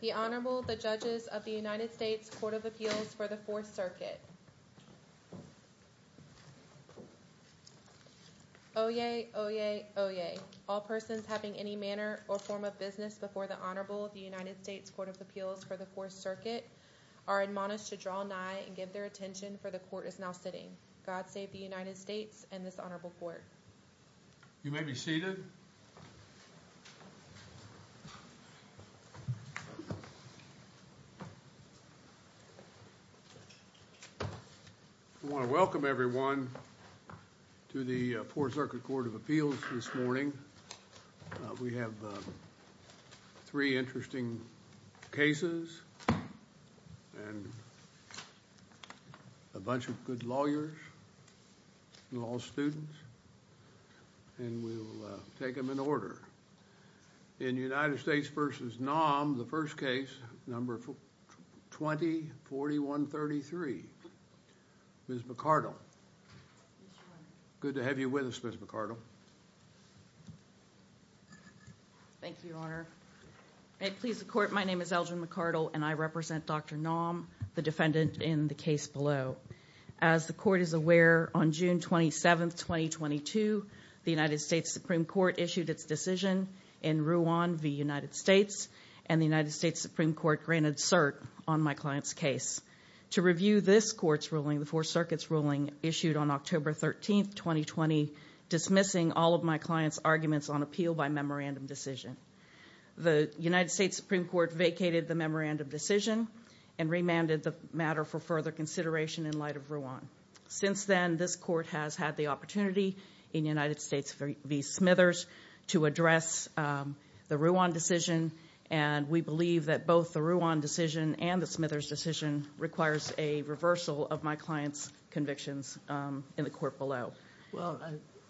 The Honorable, the Judges of the United States Court of Appeals for the Fourth Circuit Oyez! Oyez! Oyez! All persons having any manner or form of business before the Honorable of the United States Court of Appeals for the Fourth Circuit are admonished to draw nigh and give their attention, for the Court is now sitting. God save the United States and this Honorable Court. You may be seated. I want to welcome everyone to the Fourth Circuit Court of Appeals this morning. We have three interesting cases and a bunch of good lawyers and law students and we'll take them in order. In United States v. Naum, the first case, number 20-4133. Ms. McArdle. Good to have you with us, Ms. McArdle. Thank you, Your Honor. May it please the Court, my name is Elgin McArdle and I represent Dr. Naum, the defendant in the case below. As the Court is aware, on June 27, 2022, the United States Supreme Court issued its decision in Rouen v. United States and the United States Supreme Court granted cert on my client's case. To review this Court's ruling, the Fourth Circuit's ruling issued on October 13, 2020, dismissing all of my client's arguments on appeal by memorandum decision. The United States Supreme Court vacated the memorandum decision and remanded the matter for further consideration in light of Rouen. Since then, this Court has had the opportunity in United States v. Smithers to address the Rouen decision and we believe that both the Rouen decision and the Smithers decision requires a reversal of my client's convictions in the Court below.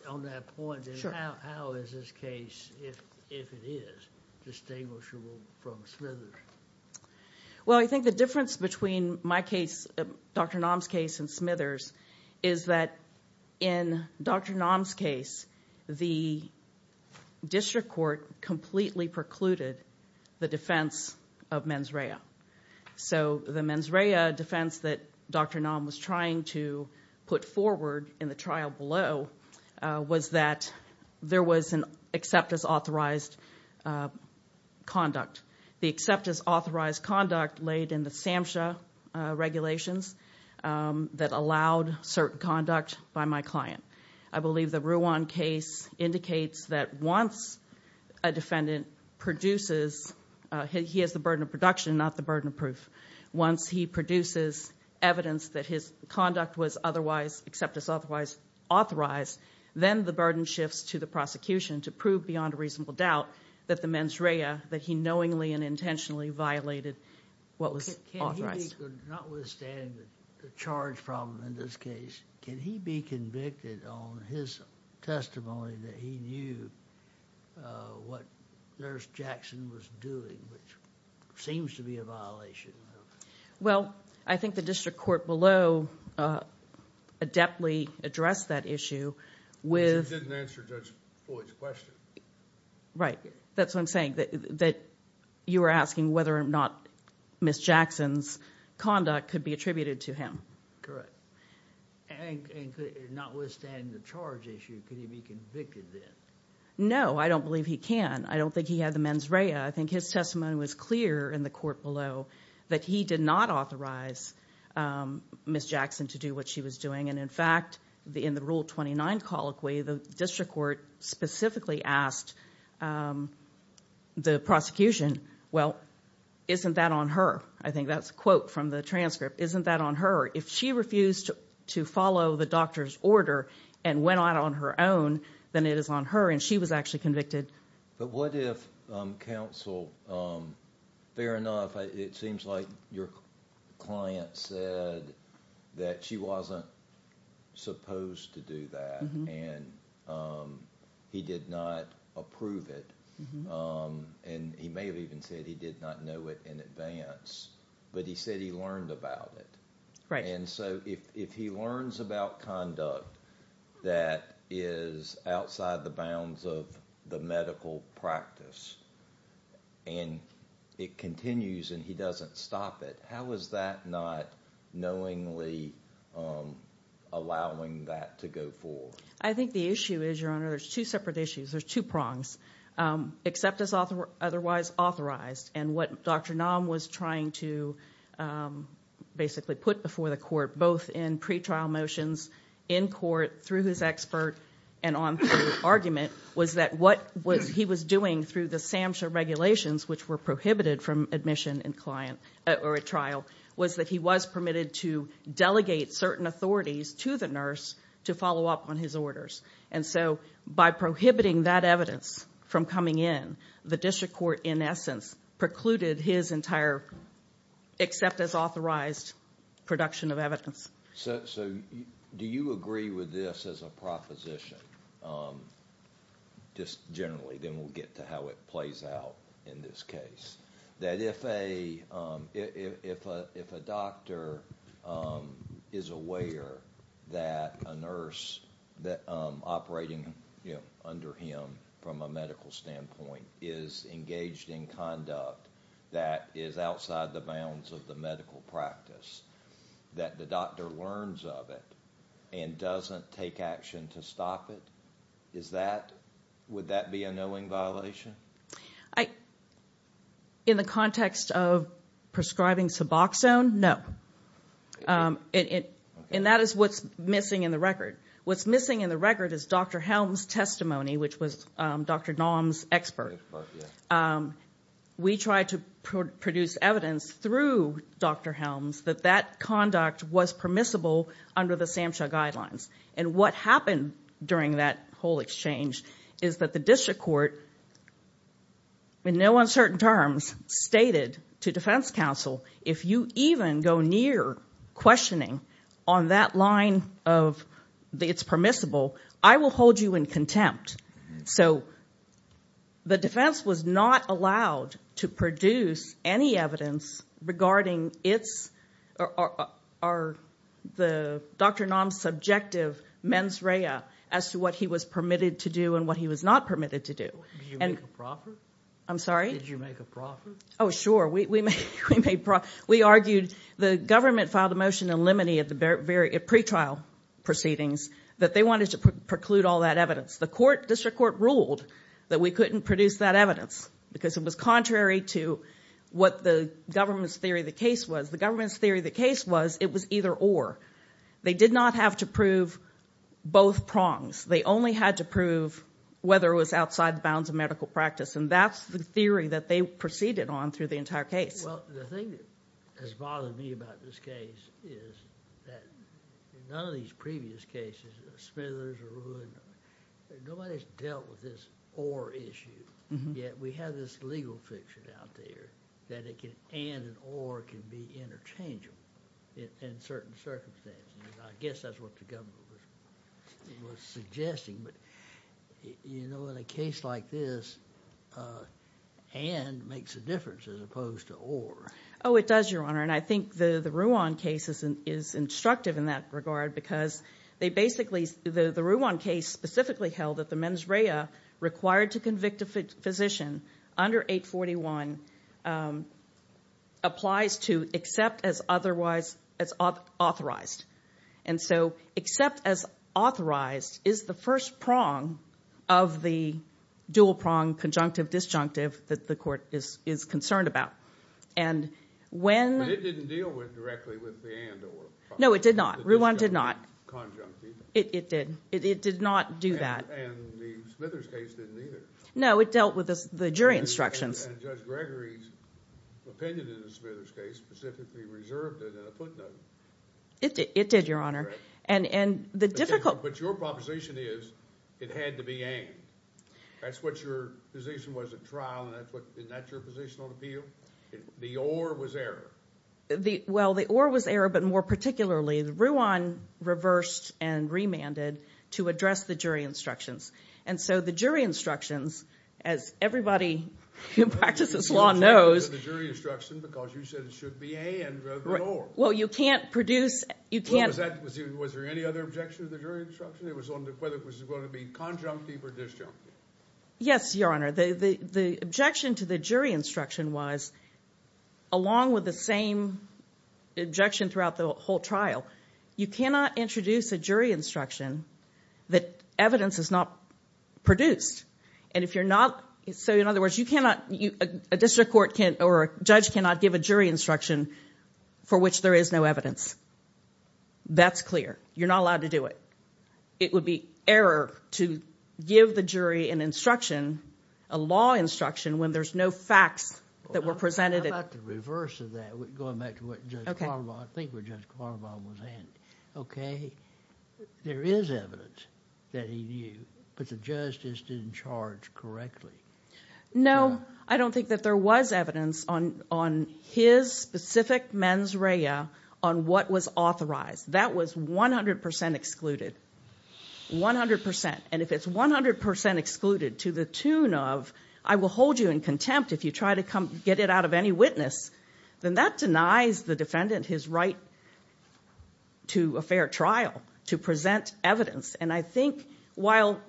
On that point, how is this case, if it is, distinguishable from Smithers? Well, I think the difference between my case, Dr. Naum's case and Smithers is that in Dr. Naum's case, the District Court completely precluded the defense of mens rea. So the mens rea defense that Dr. Naum was trying to put forward in the trial below was that there was an accept as authorized conduct. The accept as authorized conduct laid in the SAMHSA regulations that allowed certain conduct by my client. I believe the Rouen case indicates that once a defendant produces, he has the burden of production, not the burden of proof. Once he produces evidence that his conduct was otherwise accept as authorized, then the burden shifts to the prosecution to prove beyond reasonable doubt that the mens rea, that he knowingly and intentionally violated what was authorized. Can he be, notwithstanding the charge problem in this case, can he be convicted on his testimony that he knew what Nurse Jackson was doing, which seems to be a violation? Well, I think the District Court below adeptly addressed that issue with... Which it didn't answer Judge Boyd's question. Right. That's what I'm saying, that you were asking whether or not Ms. Jackson's conduct could be attributed to him. Correct. And notwithstanding the charge issue, could he be convicted then? No, I don't believe he can. I don't think he had the mens rea below that he did not authorize Ms. Jackson to do what she was doing. And in fact, in the Rule 29 colloquy, the District Court specifically asked the prosecution, well, isn't that on her? I think that's a quote from the transcript. Isn't that on her? If she refused to follow the doctor's order and went out on her own, then it is on her and she was actually convicted. But what if counsel, fair enough, it seems like your client said that she wasn't supposed to do that and he did not approve it. And he may have even said he did not know it in advance, but he said he learned about it. Right. And so if he learns about conduct that is outside the bounds of the medical practice and it continues and he doesn't stop it, how is that not knowingly allowing that to go forward? I think the issue is, Your Honor, there's two separate issues. There's two prongs. Acceptance otherwise authorized and what Dr. Nam was trying to basically put before the court, both in pretrial motions in court through his expert and on through argument, was that what he was doing through the SAMHSA regulations, which were prohibited from admission in client or at trial, was that he was permitted to delegate certain authorities to the nurse to follow up on his orders. And so by prohibiting that evidence from coming in, the District Court, in essence, precluded his entire accept authorized production of evidence. So do you agree with this as a proposition? Just generally, then we'll get to how it plays out in this case, that if a doctor is aware that a nurse operating under him from a medical standpoint is engaged in conduct that is outside the bounds of the medical practice, that the doctor learns of it and doesn't take action to stop it? Would that be a knowing violation? In the context of prescribing Suboxone, no. And that is what's missing in the record. What's missing in the record is Dr. Helm's testimony, which was Dr. Nam's expert. We tried to produce evidence through Dr. Helm's that that conduct was permissible under the SAMHSA guidelines. And what happened during that whole exchange is that the District Court, in no uncertain terms, stated to Defense Counsel, if you even go near questioning on that line of it's permissible, I will hold you in contempt. So the defense was not allowed to produce any evidence regarding Dr. Nam's subjective mens rea as to what he was permitted to do and what he was not permitted to do. Did you make a profit? I'm sorry? Did you make a profit? Oh, sure. We argued, the government filed a motion in limine at pretrial proceedings that they wanted to preclude all that evidence. The District Court ruled that we couldn't produce that evidence because it was contrary to what the government's theory of the case was. The government's theory of the case was it was either or. They did not have to prove both prongs. They only had to prove whether it was outside the bounds of medical practice. And that's the theory that they proceeded on through the entire case. Well, the thing that has bothered me about this case is that in none of these previous cases, Smithers or Lewin, nobody's dealt with this or issue. Yet we have this legal fiction out there that it can and or can be interchangeable in certain circumstances. I guess that's what the government was suggesting. But you know, in a case like this, and makes a difference as opposed to or. Oh, it does, Your Honor. And I think the Ruan case is instructive in that regard because they basically, the Ruan case specifically held that the mens rea required to convict a physician under 841 applies to except as otherwise as authorized. And so except as authorized is the first prong of the dual prong conjunctive disjunctive that the court is concerned about. But it didn't deal with directly with the and or. No, it did not. Ruan did not. Conjunctive. It did. It did not do that. And the Smithers case didn't either. No, it dealt with the jury instructions. And Judge Gregory's opinion in the Smithers case specifically reserved it in a footnote. It did, Your Honor. And the difficult... But your proposition is it had to be aimed. That's what your position was at trial, and that's what, isn't that your position on appeal? The or was error. Well, the or was error, but more particularly the Ruan reversed and remanded to address the jury instructions as everybody who practices law knows. The jury instruction because you said it should be a and rather than or. Well, you can't produce... Well, was there any other objection to the jury instruction? It was on whether it was going to be conjunctive or disjunctive. Yes, Your Honor. The objection to the jury instruction was, along with the same objection throughout the whole trial, you cannot introduce a jury instruction that evidence is not produced. And if you're not... So, in other words, you cannot... A district court can't or a judge cannot give a jury instruction for which there is no evidence. That's clear. You're not allowed to do it. It would be error to give the jury an instruction, a law instruction, when there's no facts that were presented. How about the reverse of that, going back to what Judge Carnaval... I think where Judge Carnaval said there was evidence that he knew, but the justice didn't charge correctly. No, I don't think that there was evidence on his specific mens rea on what was authorized. That was 100% excluded. 100%. And if it's 100% excluded to the tune of, I will hold you in contempt if you try to come get it out of any witness, then that denies the defendant his right to a fair trial, to present evidence. And I think while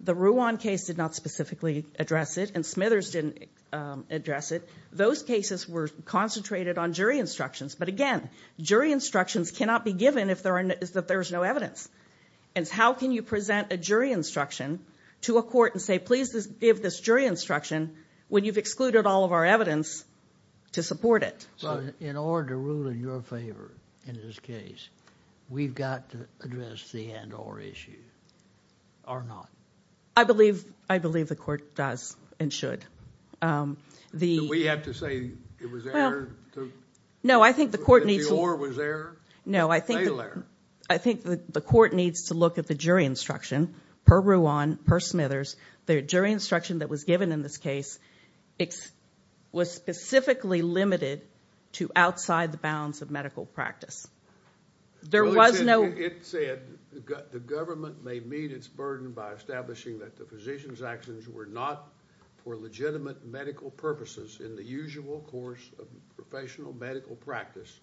the Ruan case did not specifically address it and Smithers didn't address it, those cases were concentrated on jury instructions. But again, jury instructions cannot be given if there is no evidence. And how can you present a jury instruction to a court and say, please give this jury instruction when you've excluded all of our evidence to support it? So in order to rule in your favor in this case, we've got to address the and-or issue, or not? I believe the court does and should. Do we have to say it was error? No, I think the court needs... That the or was error? No, I think the court needs to look at the jury instruction per Ruan, per Smithers. The jury instruction that was given in this case, it was specifically limited to outside the bounds of medical practice. There was no... It said, the government may meet its burden by establishing that the physician's actions were not for legitimate medical purposes in the usual course of professional medical practice,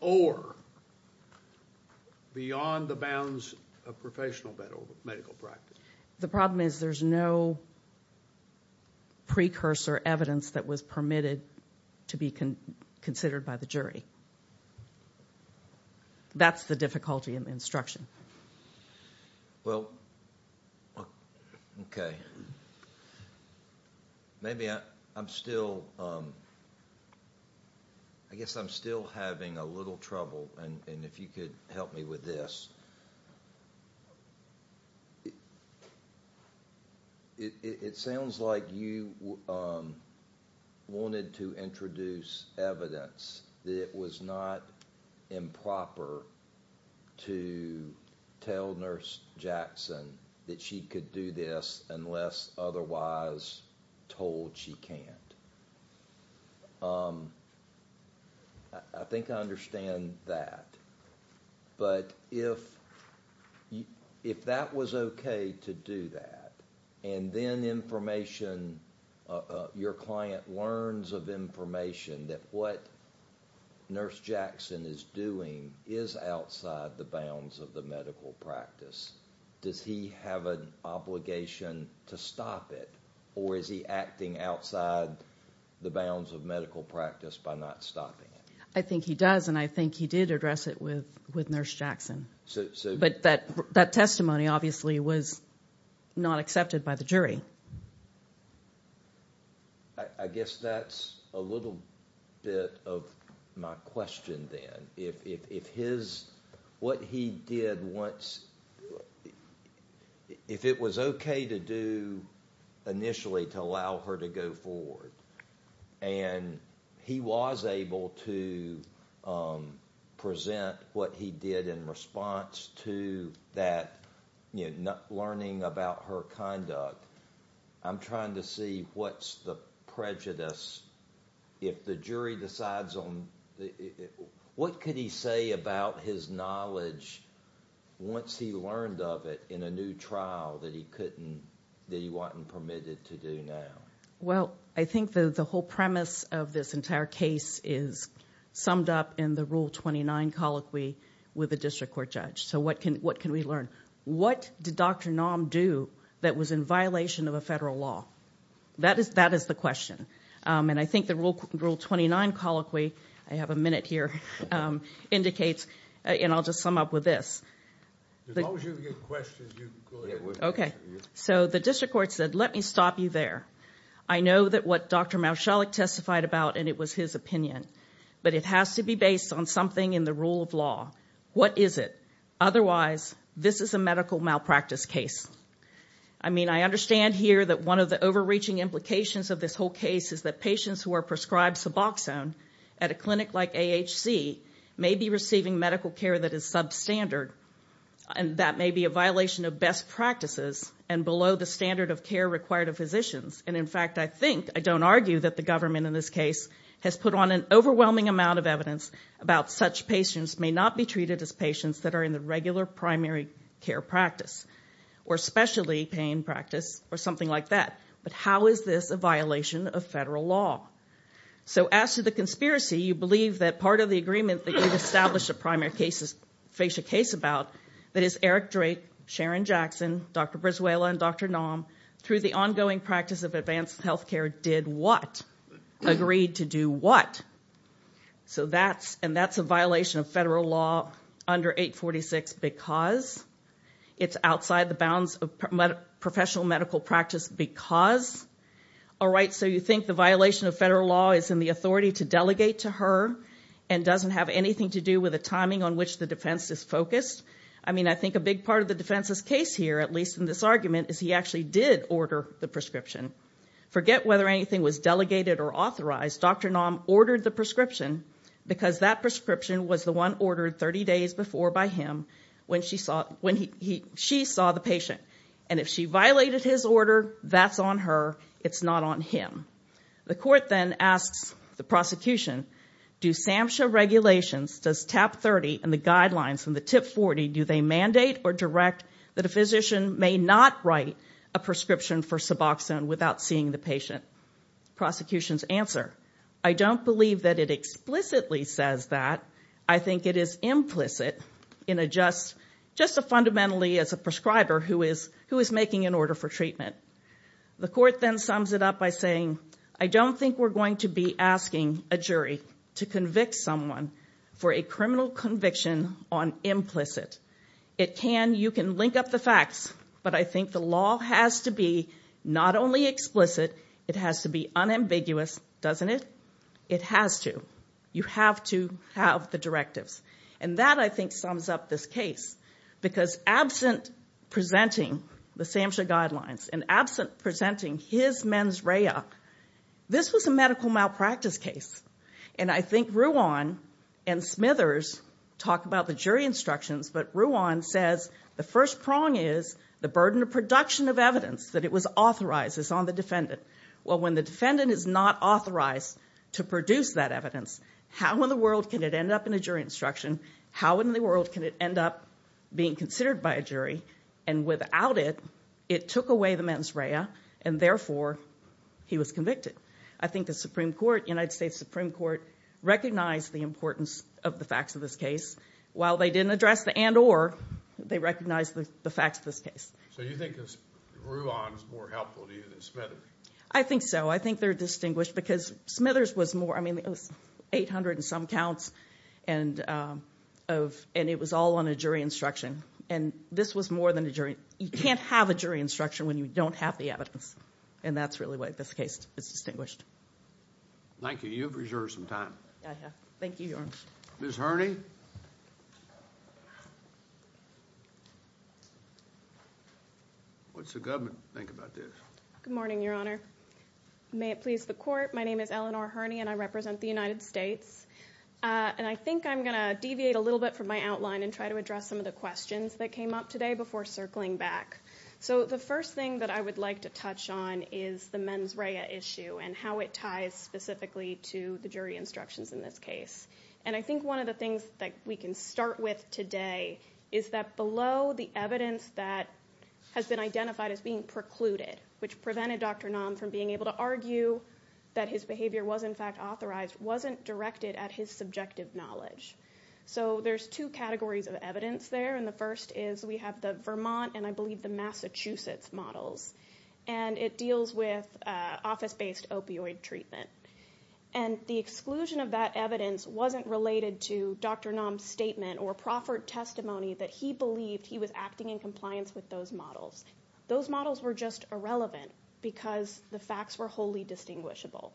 or beyond the bounds of professional medical practice. The problem is there's no precursor evidence that was permitted to be considered by the jury. That's the difficulty in the instruction. Well, okay. Maybe I'm still... I guess I'm still having a little trouble, and if you could help me with this. It sounds like you wanted to introduce evidence that it was not improper to tell Nurse Jackson that she could do this unless otherwise told she can't. I think I understand that, but if that was okay to do that, and then information... Your client learns of information that what Nurse Jackson is doing is outside the bounds of the medical practice, does he have an obligation to stop it? Or is he acting outside the bounds of medical practice by not stopping it? I think he does, and I think he did address it with Nurse Jackson. But that testimony obviously was not accepted by the jury. I guess that's a little bit of my question then. If what he did once... If it was okay to do initially to allow her to go forward, and he was able to present what he did in response to that learning about her conduct, I'm trying to see what's the prejudice. If the jury decides on... What could he say about his knowledge once he learned of it in a new trial that he wasn't permitted to do now? Well, I think the whole premise of this entire case is summed up in the Rule 29 colloquy with a district court judge. So what can we learn? What did Dr. Naum do that was in violation of a federal law? That is the question. I think the Rule 29 colloquy, I have a minute here, indicates, and I'll just sum up with this. As long as you have questions, you can go ahead. Okay. So the district court said, let me stop you there. I know that what Dr. Mauchalik testified about, and it was his opinion, but it has to be based on something in the rule of law. What is it? Otherwise, this is a medical malpractice case. I mean, I understand here that one of the overreaching implications of this case is that patients who are prescribed suboxone at a clinic like AHC may be receiving medical care that is substandard. And that may be a violation of best practices and below the standard of care required of physicians. And in fact, I think, I don't argue that the government in this case has put on an overwhelming amount of evidence about such patients may not be treated as patients that are in the regular primary care practice or specialty pain practice or something like that. But how is this a violation of federal law? So as to the conspiracy, you believe that part of the agreement that you've established a primary case is, face a case about that is Eric Drake, Sharon Jackson, Dr. Brizuela, and Dr. Nam through the ongoing practice of advanced health care did what? Agreed to do what? So that's, and that's a violation of federal law under 846, because it's outside the bounds of professional medical practice, because, all right, so you think the violation of federal law is in the authority to delegate to her and doesn't have anything to do with the timing on which the defense is focused? I mean, I think a big part of the defense's case here, at least in this argument, is he actually did order the prescription. Forget whether anything was delegated or authorized, Dr. Nam ordered the prescription because that prescription was the one ordered 30 days before by him when she saw, when he, she saw the patient. And if she violated his order, that's on her. It's not on him. The court then asks the prosecution, do SAMHSA regulations, does TAP-30 and the guidelines from the TIP-40, do they mandate or direct that a physician may not write a prescription for Suboxone without seeing the patient? Prosecution's answer, I don't believe that it explicitly says that. I think it is implicit in a just, fundamentally, as a prescriber who is making an order for treatment. The court then sums it up by saying, I don't think we're going to be asking a jury to convict someone for a criminal conviction on implicit. It can, you can link up the facts, but I think the law has to be not only explicit, it has to be unambiguous, doesn't it? It has to. You have to have the directives. And that, I think, sums up this case. Because absent presenting the SAMHSA guidelines, and absent presenting his mens rea, this was a medical malpractice case. And I think Ruan and Smithers talk about the jury instructions, but Ruan says the first prong is the burden of production of evidence, that it was authorized, it's on the defendant. Well, when the defendant is not authorized to produce that evidence, how in the world can it end up in a jury instruction? How in the world can it end up being considered by a jury? And without it, it took away the mens rea, and therefore, he was convicted. I think the Supreme Court, United States Supreme Court, recognized the importance of the facts of this case. While they didn't address the and or, they recognized the facts of this case. So you think Ruan is more helpful to you than Smithers? I think so. I think they're distinguished because Smithers was more, I mean, it was 800 and some counts. And it was all on a jury instruction. And this was more than a jury. You can't have a jury instruction when you don't have the evidence. And that's really why this case is distinguished. Thank you. You've reserved some time. Thank you, Your Honor. Ms. Herney. What's the government think about this? Good morning, Your Honor. May it please the court. My name is Eleanor Herney, and I represent the United States. And I think I'm gonna deviate a little bit from my outline and try to address some of the questions that came up today before circling back. So the first thing that I would like to touch on is the mens rea issue and how it ties specifically to the jury instructions in this case. And I think one of the things that we can start with today is that below the evidence that has been identified as being precluded, which prevented Dr. Nam from being able to argue that his behavior was in fact authorized, wasn't directed at his subjective knowledge. So there's two categories of evidence there. And the first is we have the Vermont and I believe the Massachusetts models. And it deals with office-based opioid treatment. And the exclusion of that evidence wasn't related to Dr. Nam's statement or proffered testimony that he believed he was acting in compliance with those models. Those models were just irrelevant because the facts were wholly distinguishable.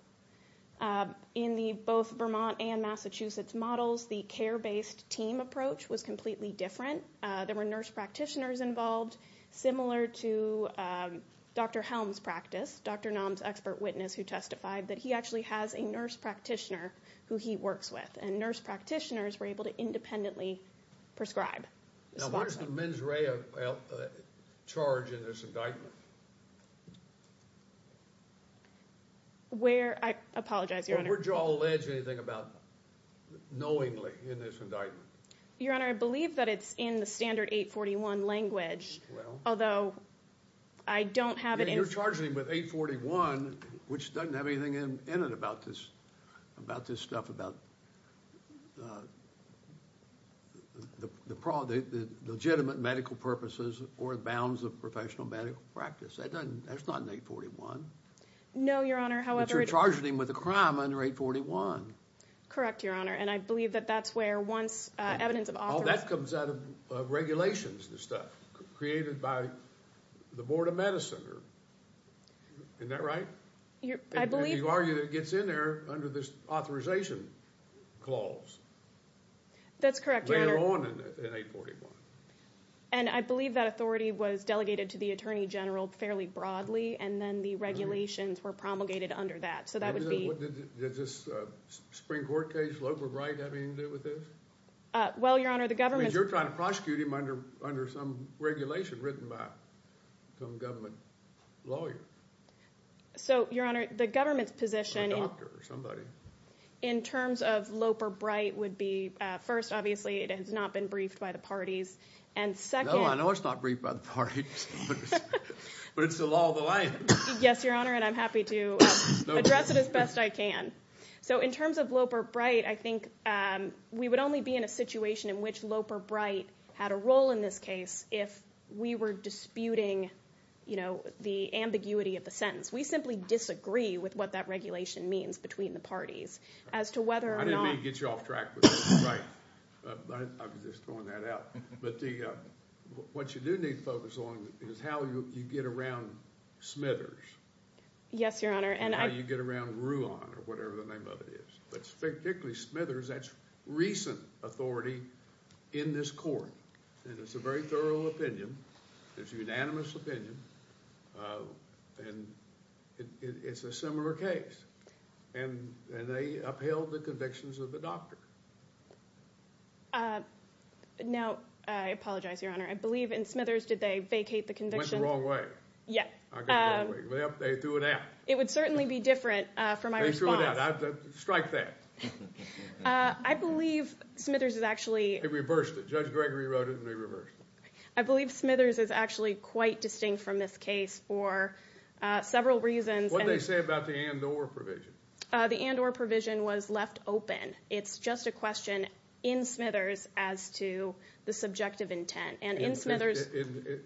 In the both Vermont and Massachusetts models, the care-based team approach was completely different. There were nurse practitioners involved, similar to Dr. Helm's practice, Dr. Nam's expert witness who testified that he actually has a nurse practitioner who he works with. And nurse practitioners were able to independently prescribe. Now, where's the mens rea charge in this indictment? Where, I apologize, Your Honor. Where'd you all allege anything about knowingly in this indictment? Your Honor, I believe that it's in the standard 841 language. Well. Although I don't have it in. You're charging him with 841, which doesn't have anything in it about this stuff about the legitimate medical purposes or bounds of professional medical practice. That's not in 841. No, Your Honor. But you're charging him with a crime under 841. Correct, Your Honor. And I believe that that's where once evidence of authority. All that comes out of regulations and stuff created by the Board of Medicine. Isn't that right? I believe. You argue that it gets in there under this authorization clause. That's correct, Your Honor. Later on in 841. And I believe that authority was delegated to the Attorney General fairly broadly. And then the regulations were promulgated under that. So that would be. Is this a Supreme Court case? Loper Bright having to do with this? Well, Your Honor, the government. You're trying to prosecute him under some regulation written by some government lawyer. So, Your Honor, the government's position. A doctor or somebody. In terms of Loper Bright would be, first, obviously, it has not been briefed by the parties. And second. No, I know it's not briefed by the parties. But it's the law of the land. Yes, Your Honor. And I'm happy to address it as best I can. So in terms of Loper Bright, I think we would only be in a situation in which Loper Bright had a role in this case if we were disputing the ambiguity of the sentence. We simply disagree with what that regulation means between the parties. As to whether or not. I didn't mean to get you off track. I was just throwing that out. But what you do need to focus on is how you get around Smithers. Yes, Your Honor. And how you get around Ruan or whatever the name of it is. But particularly Smithers. That's recent authority in this court. And it's a very thorough opinion. It's a unanimous opinion. And it's a similar case. And they upheld the convictions of the doctor. Now, I apologize, Your Honor. I believe in Smithers, did they vacate the convictions? Went the wrong way. Yeah. I got the wrong way. Well, they threw it out. It would certainly be different for my response. They threw it out. I strike that. I believe Smithers is actually. They reversed it. Judge Gregory wrote it and they reversed it. I believe Smithers is actually quite distinct from this case for several reasons. What did they say about the and or provision? The and or provision was left open. It's just a question in Smithers as to the subjective intent. And in Smithers.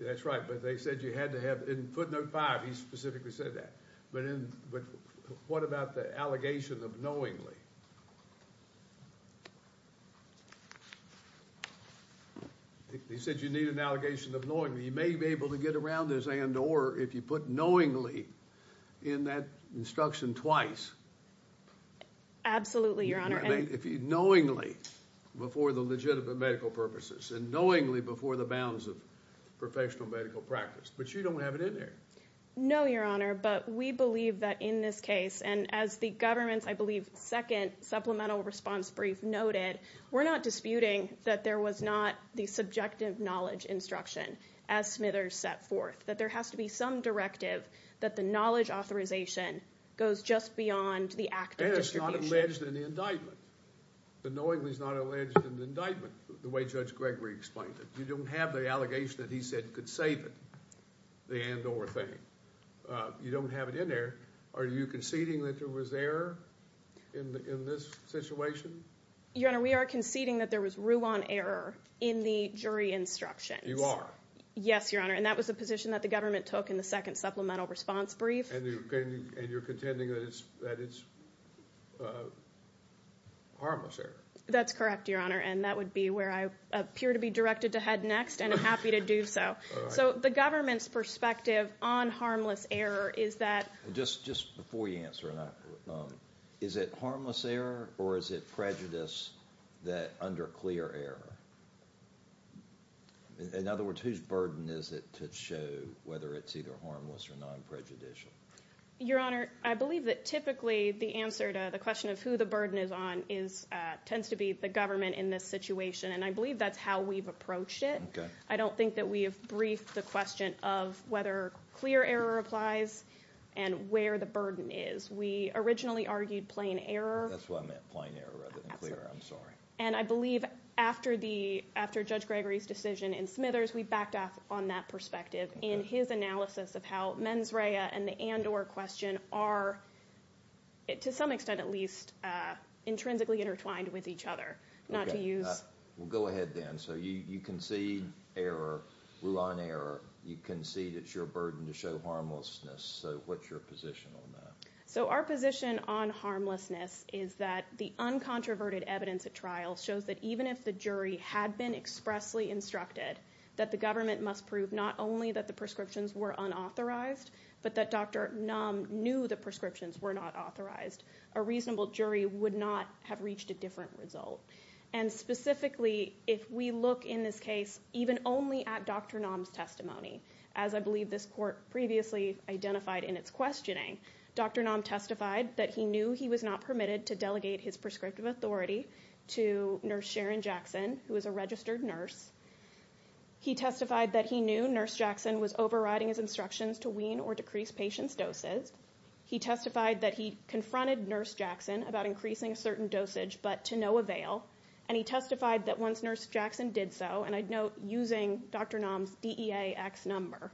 That's right. But they said you had to have. In footnote five, he specifically said that. But what about the allegation of knowingly? He said you need an allegation of knowingly. You may be able to get around this and or if you put knowingly in that instruction twice. Absolutely, Your Honor. Knowingly before the legitimate medical purposes and knowingly before the bounds of professional medical practice. But you don't have it in there. No, Your Honor. But we believe that in this case and as the government's, I believe, second supplemental response brief noted, we're not disputing that there was not the subjective knowledge instruction as Smithers set forth, that there has to be some directive that the knowledge authorization goes just beyond the act. And it's not alleged in the indictment. The knowingly is not alleged in the indictment. The way Judge Gregory explained it. You don't have the allegation that he said could save it. The and or thing. You don't have it in there. Are you conceding that there was error in this situation? Your Honor, we are conceding that there was rule on error in the jury instruction. You are? Yes, Your Honor. And that was the position that the government took in the second supplemental response brief. And you're contending that it's harmless error? That's correct, Your Honor. And that would be where I appear to be directed to head next and I'm happy to do so. So the government's perspective on harmless error is that. Just before you answer, is it harmless error or is it prejudice that under clear error? In other words, whose burden is it to show whether it's either harmless or non-prejudicial? Your Honor, I believe that typically the answer to the question of who the burden is on is tends to be the government in this situation. And I believe that's how we've approached it. I don't think that we have briefed the question of whether clear error applies and where the burden is. We originally argued plain error. That's what I meant, plain error rather than clear, I'm sorry. And I believe after Judge Gregory's decision in Smithers, we backed off on that perspective in his analysis of how mens rea and the and or question are to some extent at least intrinsically intertwined with each other, not to use. Well, go ahead then. So you concede error, rule on error. You concede it's your burden to show harmlessness. So what's your position on that? So our position on harmlessness is that the uncontroverted evidence at trial shows that even if the jury had been expressly instructed that the government must prove not only that the prescriptions were unauthorized, but that Dr. Nam knew the prescriptions were not authorized, a reasonable jury would not have reached a different result. And specifically, if we look in this case, even only at Dr. Nam's testimony, as I believe this court previously identified in its questioning, Dr. Nam testified that he knew he was not permitted to delegate his prescriptive authority to Nurse Sharon Jackson, who was a registered nurse. He testified that he knew Nurse Jackson was overriding his instructions to wean or decrease patients' doses. He testified that he confronted Nurse Jackson about increasing a certain dosage, but to no avail. And he testified that once Nurse Jackson did so, and I'd note using Dr. Nam's DEAX number,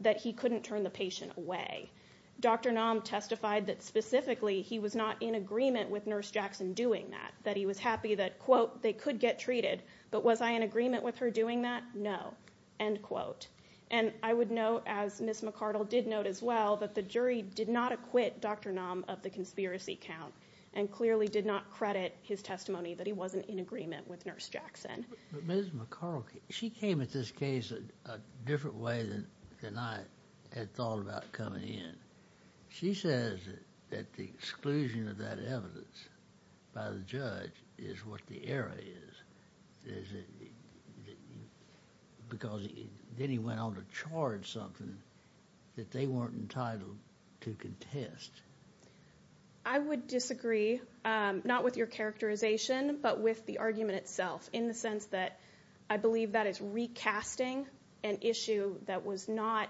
that he couldn't turn the patient away. Dr. Nam testified that specifically he was not in agreement with Nurse Jackson doing that, that he was happy that, quote, they could get treated, but was I in agreement with her doing that? No, end quote. And I would note, as Ms. McArdle did note as well, that the jury did not acquit Dr. Nam of the conspiracy count and clearly did not credit his testimony that he wasn't in agreement with Nurse Jackson. But Ms. McArdle, she came at this case in a different way than I had thought about coming in. She says that the exclusion of that evidence by the judge is what the error is. Because then he went on to charge something that they weren't entitled to contest. MS. MCARDLE I would disagree, not with your characterization, but with the argument itself in the sense that I believe that is recasting an issue that was not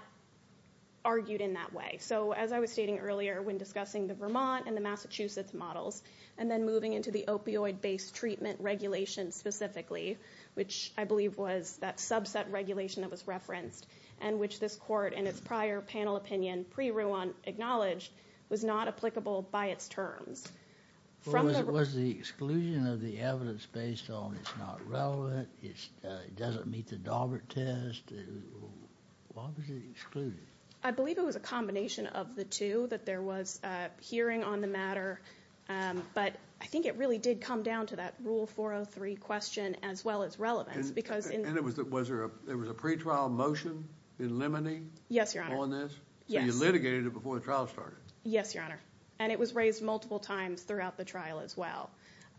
argued in that way. So as I was stating earlier when discussing the Vermont and the Massachusetts models, and then moving into the opioid-based treatment regulation specifically, which I believe was that subset regulation that was referenced and which this court in its prior panel opinion pre-Ruon acknowledged was not applicable by its terms. MR. RUONE Was the exclusion of the evidence based on it's not relevant, it doesn't meet the Daubert test? Why was it excluded? I believe it was a combination of the two, that there was a hearing on the matter, but I think it really did come down to that Rule 403 question as well as relevance. MR. MCARDLE And was there a pre-trial motion in limine on this? So you litigated it before the trial started? Yes, Your Honor. And it was raised multiple times throughout the trial as well.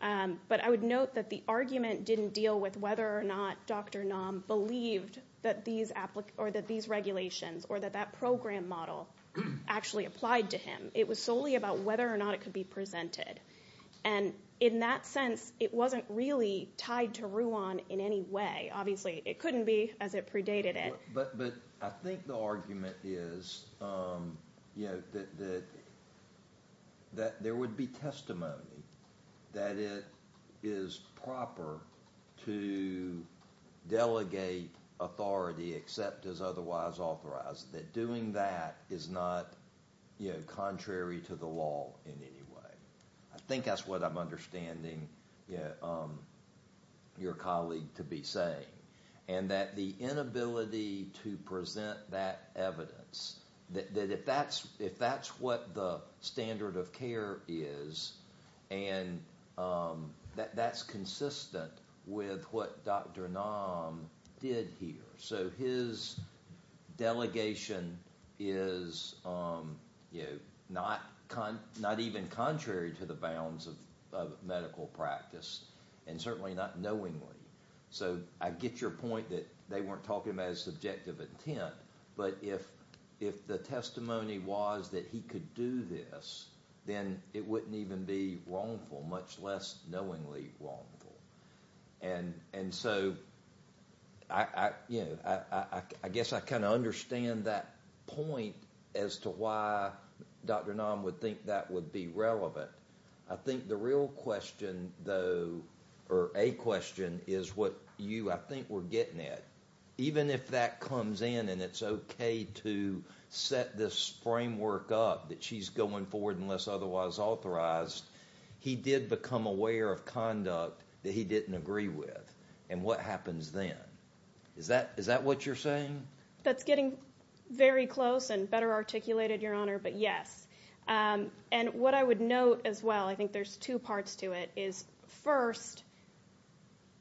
But I would note that the argument didn't deal with whether or not Dr. Naum believed that these regulations or that that program model actually applied to him. It was solely about whether or not it could be presented. And in that sense, it wasn't really tied to Ruon in any way. Obviously, it couldn't be as it predated it. MR. MCARDLE But I think the argument is that there would be testimony that it is proper to delegate authority except as otherwise authorized, that doing that is not contrary to the law in any way. I think that's what I'm understanding your colleague to be saying. And that the inability to present that evidence, that if that's what the standard of care is, and that that's consistent with what Dr. Naum did here. So his delegation is not even contrary to the bounds of medical practice, and certainly not knowingly. So I get your point that they weren't talking about his subjective intent. But if the testimony was that he could do this, then it wouldn't even be wrongful, much less knowingly wrongful. And so I guess I kind of understand that point as to why Dr. Naum would think that would be relevant. I think the real question, though, or a question, is what you, I think, were getting at. Even if that comes in and it's okay to set this framework up, that she's going forward unless otherwise authorized, he did become aware of conduct that he didn't agree with. And what happens then? Is that what you're saying? That's getting very close and better articulated, Your Honor, but yes. And what I would note as well, I think there's two parts to it, is first,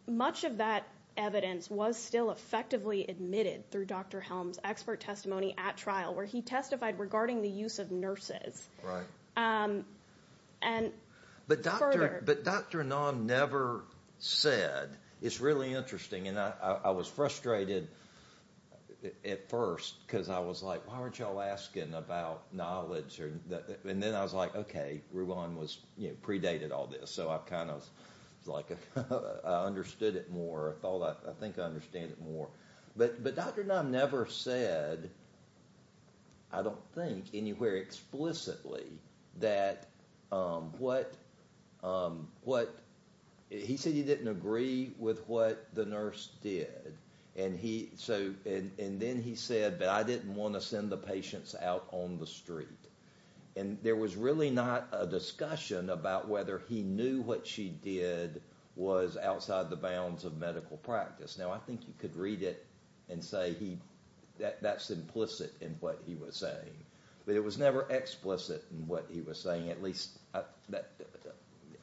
much of that evidence was still effectively admitted through Dr. Helms' expert testimony at trial, where he testified regarding the use of nurses. Right. And further... But Dr. Naum never said. It's really interesting. And I was frustrated at first, because I was like, why aren't y'all asking about knowledge? And then I was like, okay, Ruwan predated all this. So I kind of understood it more. I thought, I think I understand it more. But Dr. Naum never said, I don't think, anywhere explicitly that what... He said he didn't agree with what the nurse did. And then he said, but I didn't want to send the patients out on the street. And there was really not a discussion about whether he knew what she did was outside the bounds of medical practice. Now, I think you could read it and say, that's implicit in what he was saying. But it was never explicit in what he was saying. At least,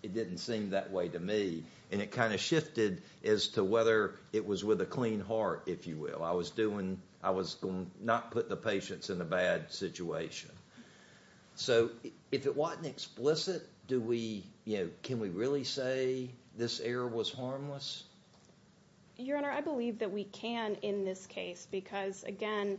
it didn't seem that way to me. And it kind of shifted as to whether it was with a clean heart, if you will. I was doing, I was not putting the patients in a bad situation. So if it wasn't explicit, can we really say this error was harmless? Your Honor, I believe that we can in this case, because again,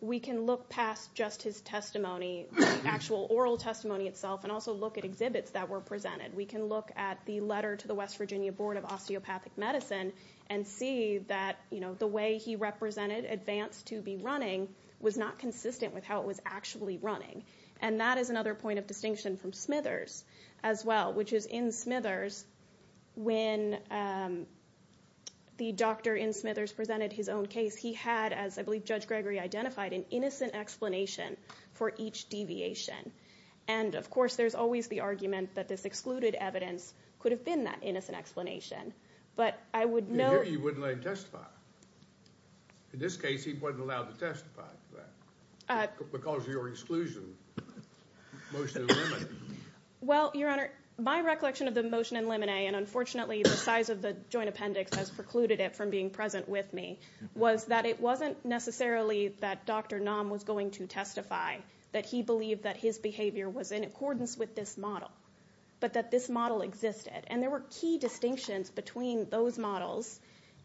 we can look past just his testimony, the actual oral testimony itself, and also look at exhibits that were presented. We can look at the letter to the West Virginia Board of Osteopathic Medicine, and see that the way he represented ADVANCE to be running was not consistent with how it was actually running. And that is another point of distinction from Smithers as well, which is in Smithers, when the doctor in Smithers presented his own case, he had, as I believe Judge Gregory identified, an innocent explanation for each deviation. And of course, there's always the argument that this excluded evidence could have been that innocent explanation. But I would note- You wouldn't let him testify. In this case, he wasn't allowed to testify. Because of your exclusion, motion and limit. Well, Your Honor, my recollection of the motion and limine, and unfortunately, the size of the joint appendix has precluded it from being present with me, was that it wasn't necessarily that Dr. Nam was going to testify, that he believed that his behavior was in accordance with this model, but that this model existed. And there were key distinctions between those models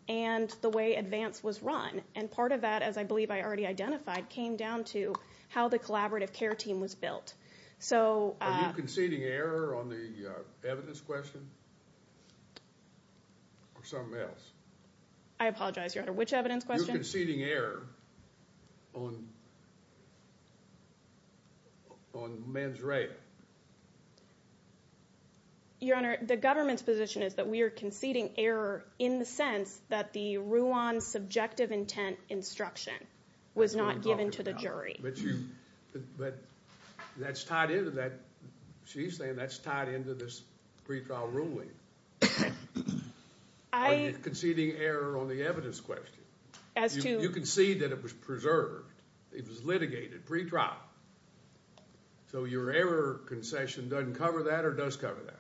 and the way ADVANCE was run. And part of that, as I believe I already identified, came down to how the collaborative care team was built. So- Which evidence question, or something else? I apologize, Your Honor. Which evidence question? You're conceding error on men's rape. Your Honor, the government's position is that we are conceding error in the sense that the Ruan's subjective intent instruction was not given to the jury. But that's tied into that- I'm conceding error on the evidence question. As to- You concede that it was preserved. It was litigated pre-trial. So your error concession doesn't cover that, or does cover that?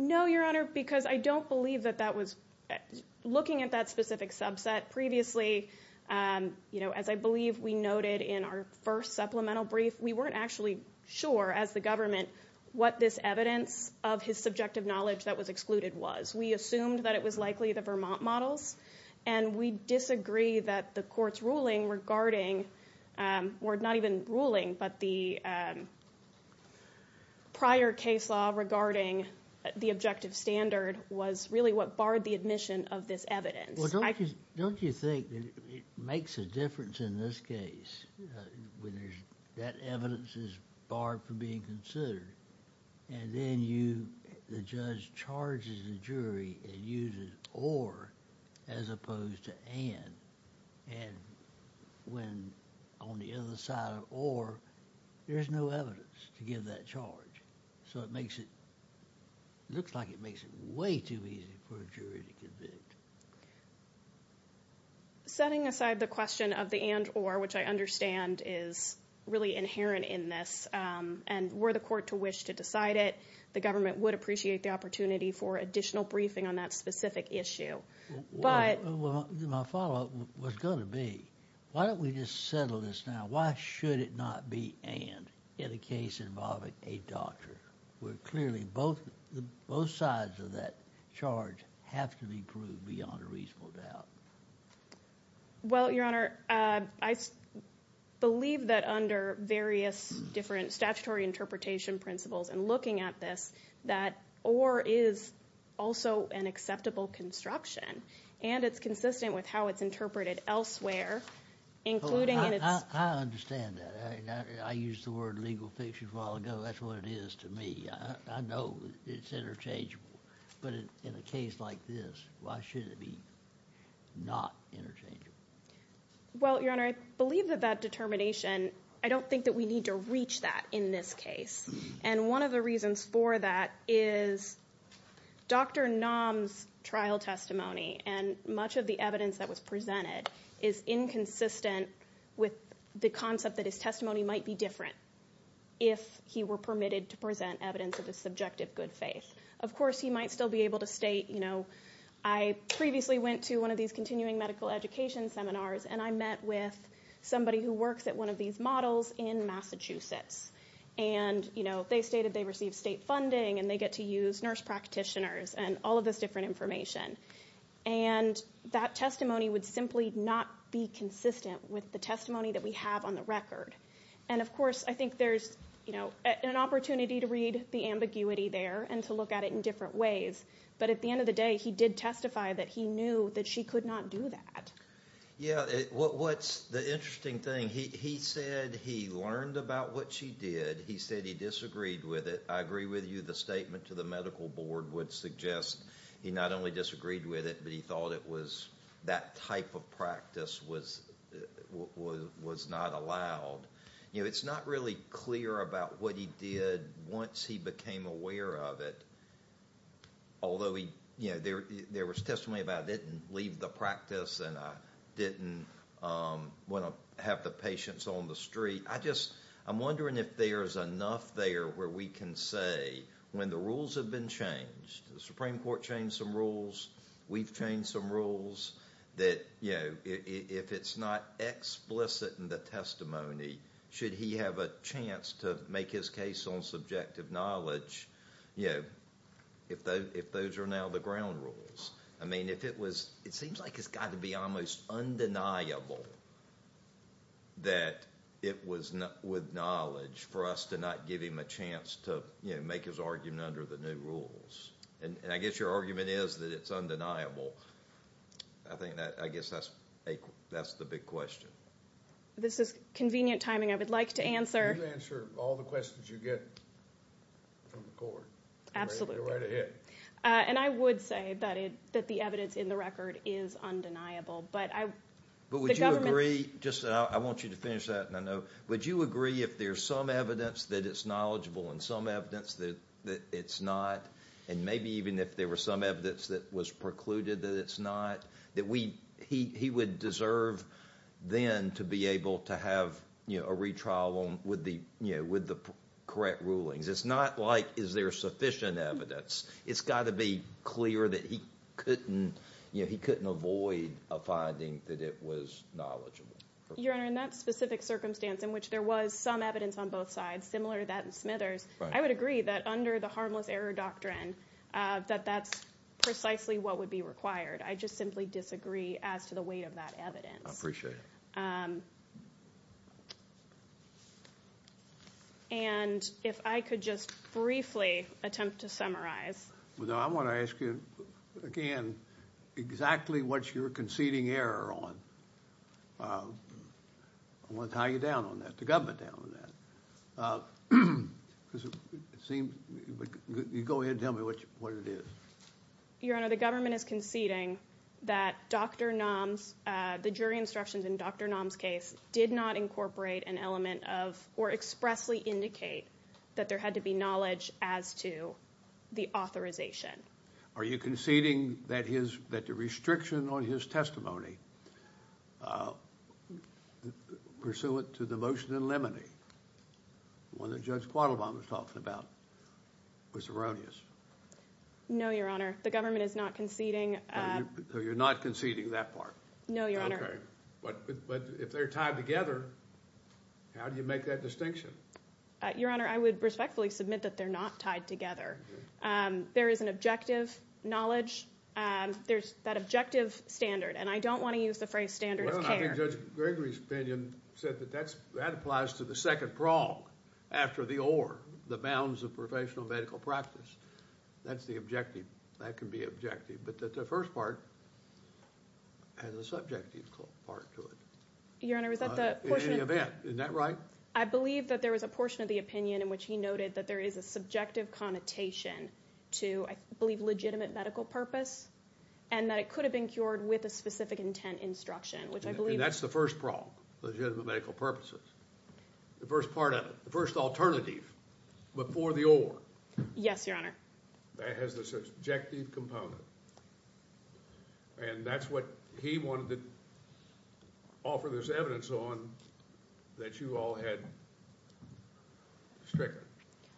No, Your Honor, because I don't believe that that was- Looking at that specific subset, previously, as I believe we noted in our first supplemental brief, we weren't actually sure, as the government, what this evidence of his subjective knowledge that was excluded was. We assumed that it was likely the Vermont models, and we disagree that the court's ruling regarding, or not even ruling, but the prior case law regarding the objective standard was really what barred the admission of this evidence. Well, don't you think that it makes a difference in this case, when that evidence is barred from being considered, and then the judge charges the jury and uses or as opposed to and, and when on the other side of or, there's no evidence to give that charge. So it makes it- It looks like it makes it way too easy for a jury to convict. Setting aside the question of the and or, which I understand is really inherent in this, and were the court to wish to decide it, the government would appreciate the opportunity for additional briefing on that specific issue. But- My follow-up was going to be, why don't we just settle this now? Why should it not be and in a case involving a doctor, where clearly both sides of that charge have to be proved beyond a reasonable doubt? Well, Your Honor, I believe that under various different statutory interpretation principles and looking at this, that or is also an acceptable construction, and it's consistent with how it's interpreted elsewhere, including in its- I understand that. I used the word legal fiction a while ago. That's what it is to me. I know it's interchangeable, but in a case like this, why should it be not interchangeable? Well, Your Honor, I believe that that determination, I don't think that we need to reach that in this case. And one of the reasons for that is Dr. Nam's trial testimony and much of the evidence that was presented is inconsistent with the concept that his testimony might be different if he were permitted to present evidence of his subjective good faith. Of course, he might still be able to state, I previously went to one of these continuing medical education seminars, and I met with somebody who works at one of these models in Massachusetts. And they stated they received state funding and they get to use nurse practitioners and all of this different information. And that testimony would simply not be consistent with the testimony that we have on the record. And of course, I think there's an opportunity to read the ambiguity there and to look at it in different ways. But at the end of the day, he did testify that he knew that she could not do that. Yeah, what's the interesting thing, he said he learned about what she did. He said he disagreed with it. I agree with you, the statement to the medical board would suggest he not only disagreed with it, but he thought it was that type of practice was not allowed. You know, it's not really clear about what he did once he became aware of it. Although he, you know, there was testimony about didn't leave the practice and I didn't want to have the patients on the street. I just, I'm wondering if there's enough there where we can say when the rules have been changed, the Supreme Court changed some rules, we've changed some rules that, you know, if it's not explicit in the testimony, should he have a chance to make his case on subjective knowledge? You know, if those are now the ground rules. I mean, if it was, it seems like it's got to be almost undeniable that it was with knowledge for us to not give him a chance to, you know, make his argument under the new rules. And I guess your argument is that it's undeniable. I think that, I guess that's the big question. This is convenient timing, I would like to answer. You answer all the questions you get from the court. Absolutely. You're right ahead. And I would say that it, that the evidence in the record is undeniable, but I... But would you agree, just, I want you to finish that and I know, would you agree if there's some evidence that it's knowledgeable and some evidence that it's not, and maybe even if there were some evidence that was precluded that it's not, that we, he would deserve then to be able to have, you know, a retrial with the, you know, with the correct rulings. It's not like, is there sufficient evidence? It's got to be clear that he couldn't, you know, he couldn't avoid a finding that it was knowledgeable. Your Honor, in that specific circumstance in which there was some evidence on both sides, similar to that in Smithers, I would agree that under the harmless error doctrine, that that's precisely what would be required. I just simply disagree as to the weight of that evidence. I appreciate it. And if I could just briefly attempt to summarize. Well, I want to ask you, again, exactly what's your conceding error on? I want to tie you down on that, the government down on that. Because it seems, you go ahead and tell me what it is. Your Honor, the government is conceding that Dr. Nam's, the jury instructions in Dr. Nam's case did not incorporate evidence and element of, or expressly indicate that there had to be knowledge as to the authorization. Are you conceding that his, that the restriction on his testimony pursuant to the motion in Lemony, the one that Judge Quattlebaum was talking about was erroneous? No, Your Honor, the government is not conceding. So you're not conceding that part? No, Your Honor. But if they're tied together, how do you make that distinction? Your Honor, I would respectfully submit that they're not tied together. There is an objective knowledge. There's that objective standard. And I don't want to use the phrase standard of care. Judge Gregory's opinion said that that's, that applies to the second prong after the oar, the bounds of professional medical practice. That's the objective. That can be objective. But that the first part has a subjective part to it. Your Honor, is that the portion of the opinion? Isn't that right? I believe that there was a portion of the opinion in which he noted that there is a subjective connotation to, I believe, legitimate medical purpose, and that it could have been cured with a specific intent instruction, which I believe... And that's the first prong, legitimate medical purposes. The first part of it, the first alternative before the oar. Yes, Your Honor. That has this objective component. And that's what he wanted to offer this evidence on, that you all had stricken,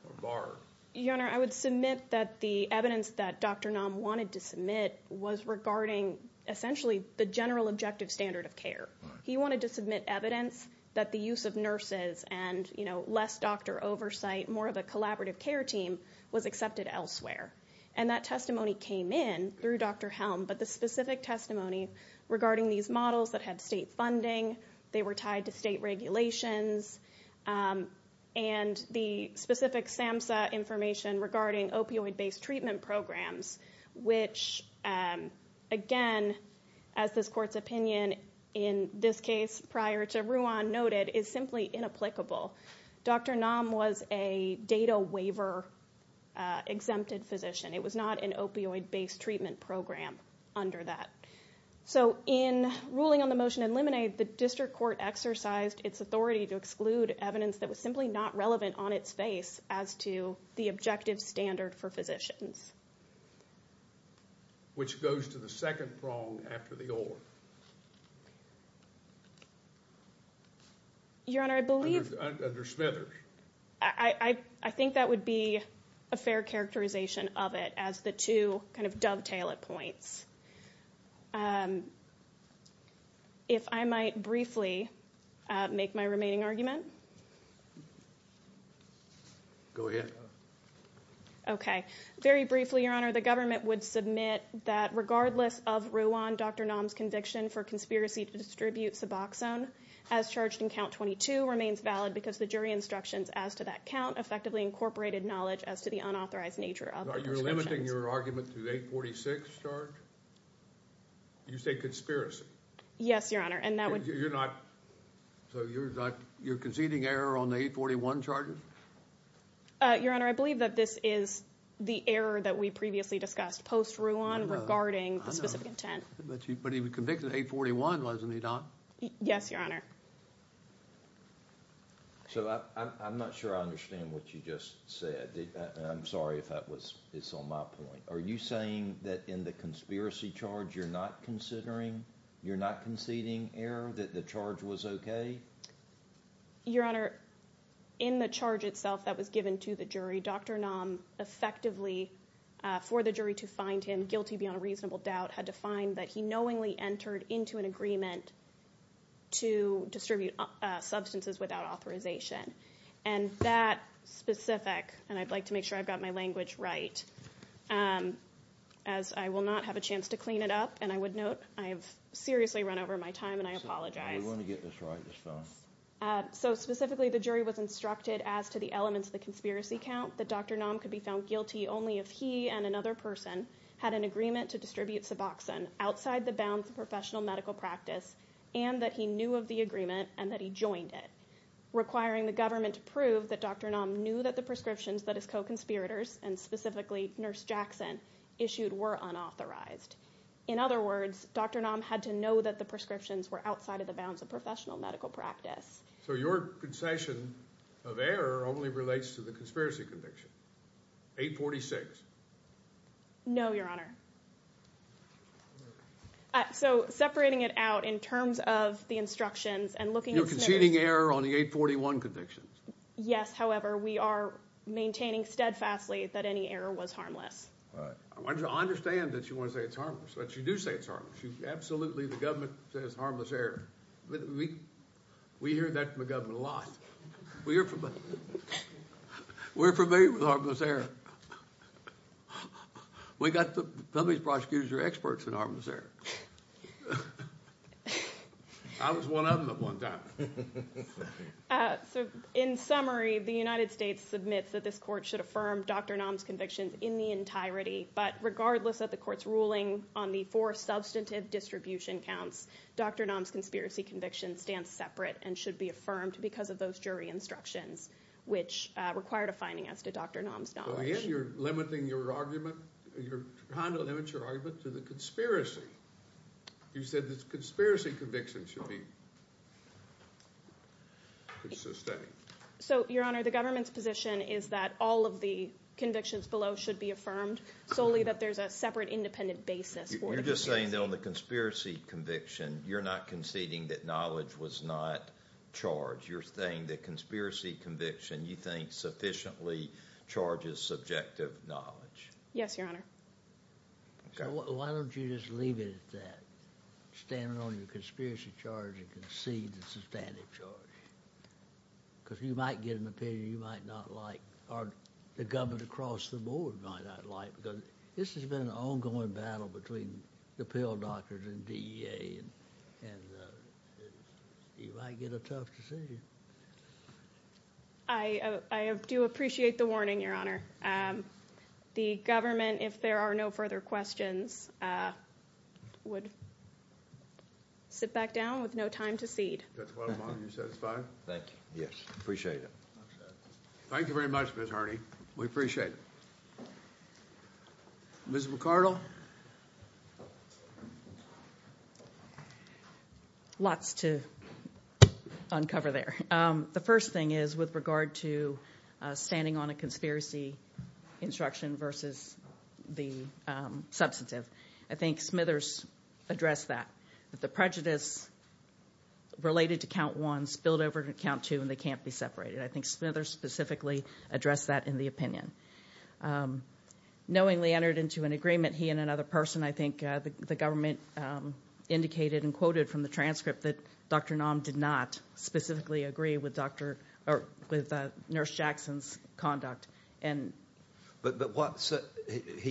or barred. Your Honor, I would submit that the evidence that Dr. Nam wanted to submit was regarding, essentially, the general objective standard of care. He wanted to submit evidence that the use of nurses and, you know, less doctor oversight, more of a collaborative care team was accepted elsewhere. And that testimony came in through Dr. Helm, but the specific testimony regarding these models that had state funding, they were tied to state regulations, and the specific SAMHSA information regarding opioid-based treatment programs, which, again, as this court's opinion in this case, prior to Ruan noted, is simply inapplicable. Dr. Nam was a data waiver-exempted physician. It was not an opioid-based treatment program under that. So in ruling on the motion in limine, the district court exercised its authority to exclude evidence that was simply not relevant on its face as to the objective standard for physicians. Which goes to the second prong after the oar. Your Honor, I believe... Under Smithers. I think that would be a fair characterization of it as the two kind of dovetail at points. If I might briefly make my remaining argument. Go ahead. Okay. Very briefly, Your Honor, the government would submit that regardless of Ruan, Dr. Nam's conviction for conspiracy to distribute Suboxone as charged in count 22 remains valid because the jury instructions as to that count effectively incorporated knowledge as to the unauthorized nature of the instructions. You're limiting your argument to the 846 charge? You say conspiracy? Yes, Your Honor, and that would... You're not... So you're conceding error on the 841 charges? Your Honor, I believe that this is the error that we previously discussed post-Ruan regarding the specific intent. But he was convicted of 841, wasn't he, Don? Yes, Your Honor. So I'm not sure I understand what you just said. I'm sorry if that was... It's on my point. Are you saying that in the conspiracy charge you're not considering... You're not conceding error that the charge was okay? Your Honor, in the charge itself that was given to the jury, Dr. Nam effectively, for the jury to find him guilty beyond a reasonable doubt had to find that he knowingly entered into an agreement to distribute substances without authorization. And that specific... And I'd like to make sure I've got my language right as I will not have a chance to clean it up. And I would note I have seriously run over my time and I apologize. I want to get this right this time. So specifically, the jury was instructed as to the elements of the conspiracy count that Dr. Nam could be found guilty only if he and another person had an agreement to distribute Suboxone outside the bounds of professional medical practice and that he knew of the agreement and that he joined it, requiring the government to prove that Dr. Nam knew that the prescriptions that his co-conspirators and specifically Nurse Jackson issued were unauthorized. In other words, Dr. Nam had to know that the prescriptions were outside of the bounds of professional medical practice. So your concession of error only relates to the conspiracy conviction, 846? No, Your Honor. So separating it out in terms of the instructions and looking at... You're conceding error on the 841 convictions. Yes, however, we are maintaining steadfastly that any error was harmless. All right. I understand that you want to say it's harmless, but you do say it's harmless. You absolutely, the government says harmless error. We hear that from the government a lot. We're familiar with harmless error. We got the public prosecutors who are experts in harmless error. I was one of them at one time. So in summary, the United States submits that this court should affirm Dr. Nam's convictions in the entirety, but regardless of the court's ruling on the four substantive distribution counts, Dr. Nam's conspiracy conviction stands separate and should be affirmed because of those jury instructions, which require defining as to Dr. Nam's knowledge. You're limiting your argument. You're trying to limit your argument to the conspiracy. You said this conspiracy conviction should be sustained. So, Your Honor, the government's position is that all of the convictions below should be affirmed solely that there's a separate independent basis. You're just saying that on the conspiracy conviction, you're not conceding that knowledge was not charged. You're saying the conspiracy conviction, you think, sufficiently charges subjective knowledge. Yes, Your Honor. Why don't you just leave it at that, standing on your conspiracy charge and concede the substantive charge? Because you might get an opinion you might not like or the government across the board might not like because this has been an ongoing battle between the pill doctors and DEA and you might get a tough decision. I do appreciate the warning, Your Honor. The government, if there are no further questions, would sit back down with no time to cede. Judge Weidemann, are you satisfied? Thank you. Yes, appreciate it. Thank you very much, Ms. Harney. We appreciate it. Ms. McCardle? Lots to uncover there. The first thing is with regard to standing on a conspiracy instruction versus the substantive. I think Smithers addressed that, that the prejudice related to count one spilled over to count two and they can't be separated. I think Smithers specifically addressed that in the opinion. Knowingly entered into an agreement, he and another person, the government indicated and quoted from the transcript that Dr. Naum did not specifically agree with Nurse Jackson's conduct. He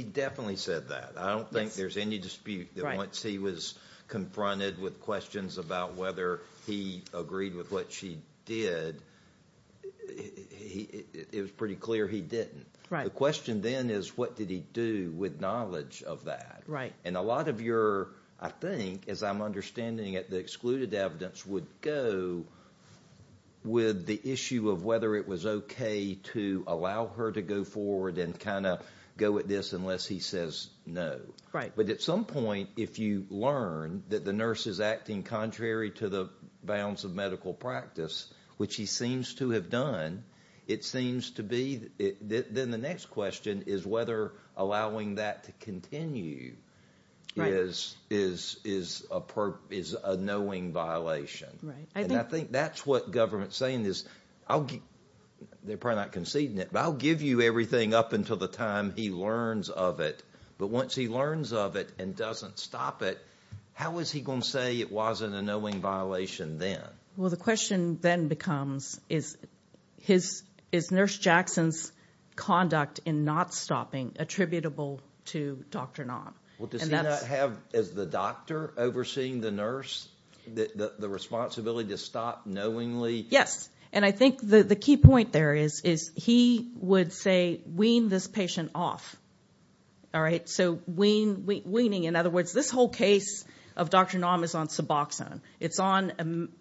definitely said that. I don't think there's any dispute that once he was confronted with questions about whether he agreed with what she did, it was pretty clear he didn't. The question then is what did he do with knowledge of that? A lot of your, I think, as I'm understanding it, the excluded evidence would go with the issue of whether it was okay to allow her to go forward and kind of go at this unless he says no. Right. But at some point, if you learn that the nurse is acting contrary to the bounds of medical practice, which he seems to have done, it seems to be then the next question is whether allowing that to continue is a knowing violation. Right. And I think that's what government's saying is, they're probably not conceding it, but I'll give you everything up until the time he learns of it. But once he learns of it and doesn't stop it, how is he going to say it wasn't a knowing violation then? Well, the question then becomes, is Nurse Jackson's conduct in not stopping attributable to Dr. Naum? Well, does he not have, as the doctor overseeing the nurse, the responsibility to stop knowingly? Yes. And I think the key point there is he would say, wean this patient off. All right. So weaning, in other words, this whole case of Dr. Naum is on Suboxone. It's on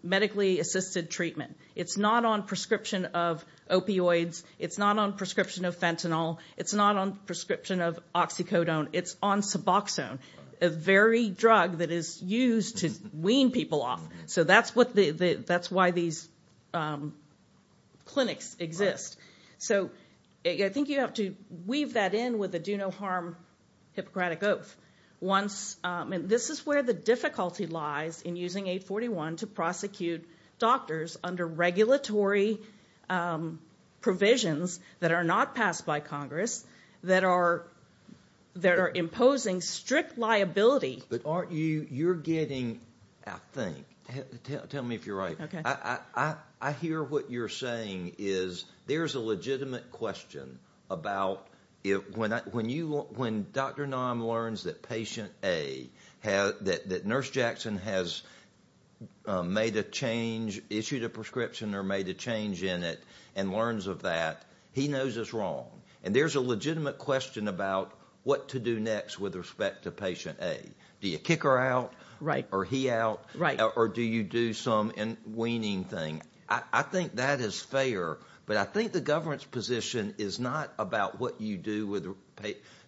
a medically assisted treatment. It's not on prescription of opioids. It's not on prescription of fentanyl. It's not on prescription of oxycodone. It's on Suboxone, a very drug that is used to wean people off. So that's why these clinics exist. So I think you have to weave that in with a do no harm Hippocratic Oath. This is where the difficulty lies in using 841 to prosecute doctors under regulatory provisions that are not passed by Congress, that are imposing strict liability. But you're getting, I think, tell me if you're right. I hear what you're saying is there's a legitimate question about when Dr. Naum learns that patient A, that Nurse Jackson has made a change, issued a prescription or made a change in it and learns of that, he knows is wrong. And there's a legitimate question about what to do next with respect to patient A. Do you kick her out? Right. Or he out? Right. Or do you do some weaning thing? I think that is fair. But I think the governance position is not about what you do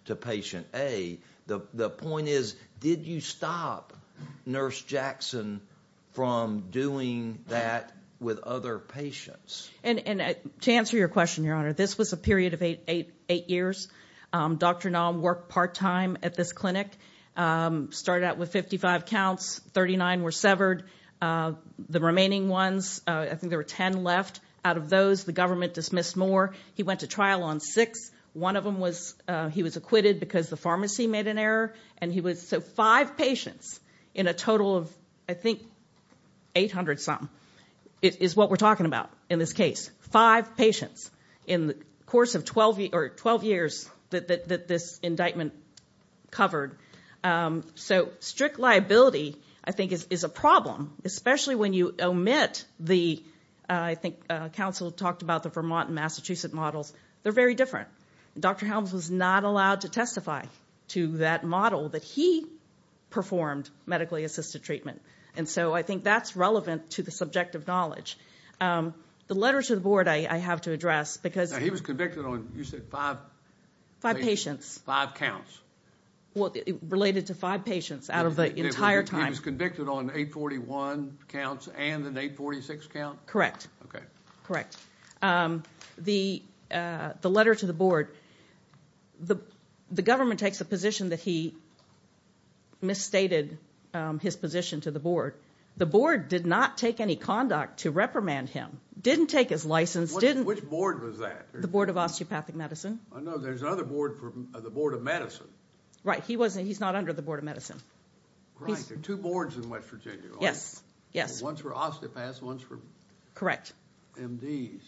to patient A. The point is, did you stop Nurse Jackson from doing that with other patients? And to answer your question, Your Honor, this was a period of eight years. Dr. Naum worked part time at this clinic. Started out with 55 counts, 39 were severed. The remaining ones, I think there were 10 left. Out of those, the government dismissed more. He went to trial on six. One of them, he was acquitted because the pharmacy made an error. And he was, so five patients in a total of, I think, 800 some is what we're talking about in this case. Five patients in the course of 12 years that this indictment covered. So strict liability, I think, is a problem, especially when you omit the, I think counsel talked about the Vermont and Massachusetts models. They're very different. Dr. Helms was not allowed to testify to that model that he performed medically assisted treatment. And so I think that's relevant to the subjective knowledge. The letter to the board I have to address because- Now he was convicted on, you said five? Five patients. Five counts. Well, related to five patients out of the entire time. He was convicted on 841 counts and an 846 count? Correct. Okay. Correct. The letter to the board, the government takes a position that he misstated his position to the board. The board did not take any conduct to reprimand him. Didn't take his license. Which board was that? The board of osteopathic medicine. I know there's another board for the board of medicine. Right, he's not under the board of medicine. Right, there are two boards in West Virginia. Yes, yes. One's for osteopaths, one's for- Correct. MDs.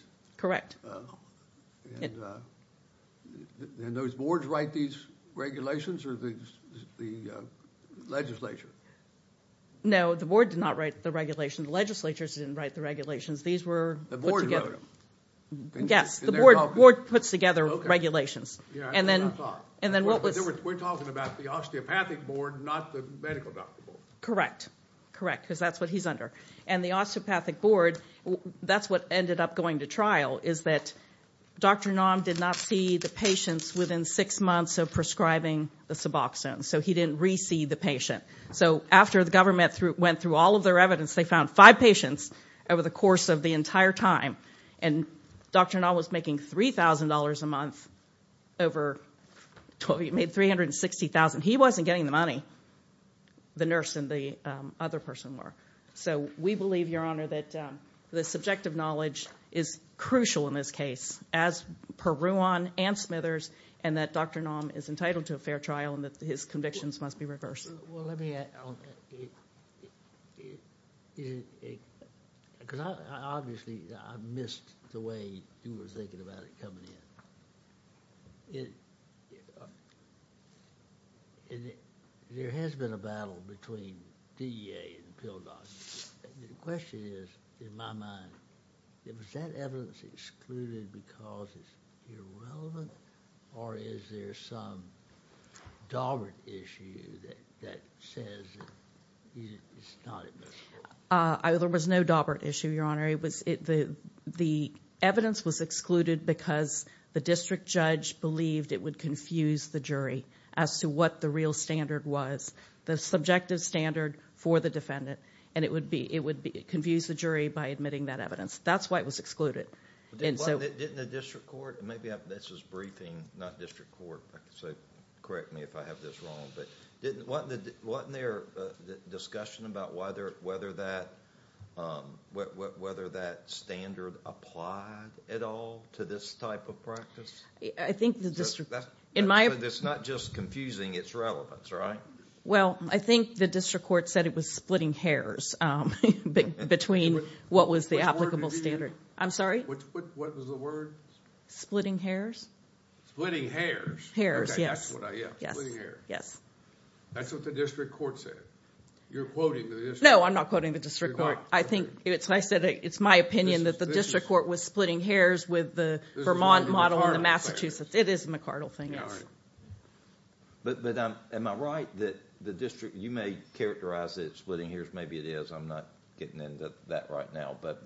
And those boards write these regulations or the legislature? No, the board did not write the regulation. The legislatures didn't write the regulations. These were- The board wrote them. Yes, the board puts together regulations. Okay, yeah, that's what I thought. And then what was- We're talking about the osteopathic board, not the medical doctor board. Correct, correct, because that's what he's under. And the osteopathic board, that's what ended up going to trial, is that Dr. Naum did not see the patients within six months of prescribing the suboxone. So he didn't re-see the patient. So after the government went through all of their evidence, they found five patients over the course of the entire time. And Dr. Naum was making $3,000 a month over 12- He made $360,000. He wasn't getting the money. The nurse and the other person were. So we believe, Your Honor, that the subjective knowledge is crucial in this case, as per Ruan and Smithers, and that Dr. Naum is entitled to a fair trial and that his convictions must be reversed. Well, let me- Because obviously, I missed the way he was thinking about it coming in. And there has been a battle between DEA and Pildon. The question is, in my mind, was that evidence excluded because it's irrelevant, or is there some daubert issue that says it's not admissible? There was no daubert issue, Your Honor. The evidence was excluded because the district judge believed it would confuse the jury as to what the real standard was, the subjective standard for the defendant. And it would confuse the jury by admitting that evidence. That's why it was excluded. Didn't the district court- Maybe this is briefing, not district court, so correct me if I have this wrong. Wasn't there a discussion about whether that standard applied at all to this type of practice? I think the district- It's not just confusing, it's relevant, right? Well, I think the district court said it was splitting hairs between what was the applicable standard. I'm sorry? What was the word? Splitting hairs. Splitting hairs? Hairs, yes. Okay, that's what I get. Splitting hairs. That's what the district court said. You're quoting the district- No, I'm not quoting the district court. I think it's my opinion that the district court was splitting hairs with the Vermont model and the Massachusetts. It is a McArdle thing, yes. But am I right that the district, you may characterize it as splitting hairs. Maybe it is. I'm not getting into that right now. But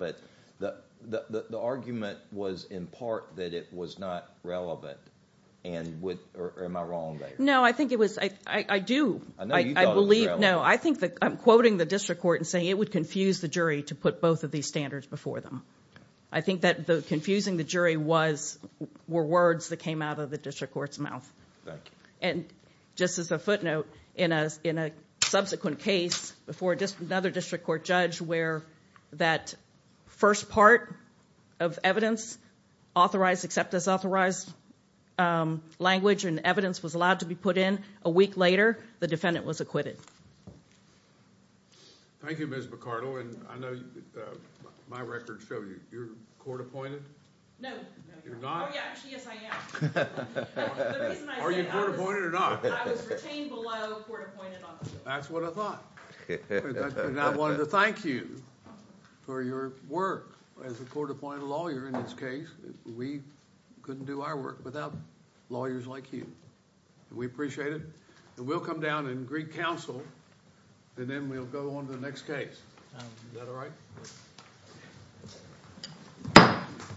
the argument was in part that it was not relevant. Am I wrong there? No, I think it was, I do, I believe, no. I think that I'm quoting the district court and saying it would confuse the jury to put both of these standards before them. I think that confusing the jury was, were words that came out of the district court's mouth. And just as a footnote, in a subsequent case before just another district court judge where that first part of evidence, authorized, except as authorized um, language and evidence was allowed to be put in, a week later, the defendant was acquitted. Thank you, Ms. McArdle. And I know my records show you, you're court appointed? No. You're not? Oh yeah, actually, yes I am. Are you court appointed or not? I was retained below court appointed. That's what I thought. And I wanted to thank you for your work as a court appointed lawyer in this case. We couldn't do our work without lawyers like you. We appreciate it. And we'll come down and greet counsel and then we'll go on to the next case. Is that all right?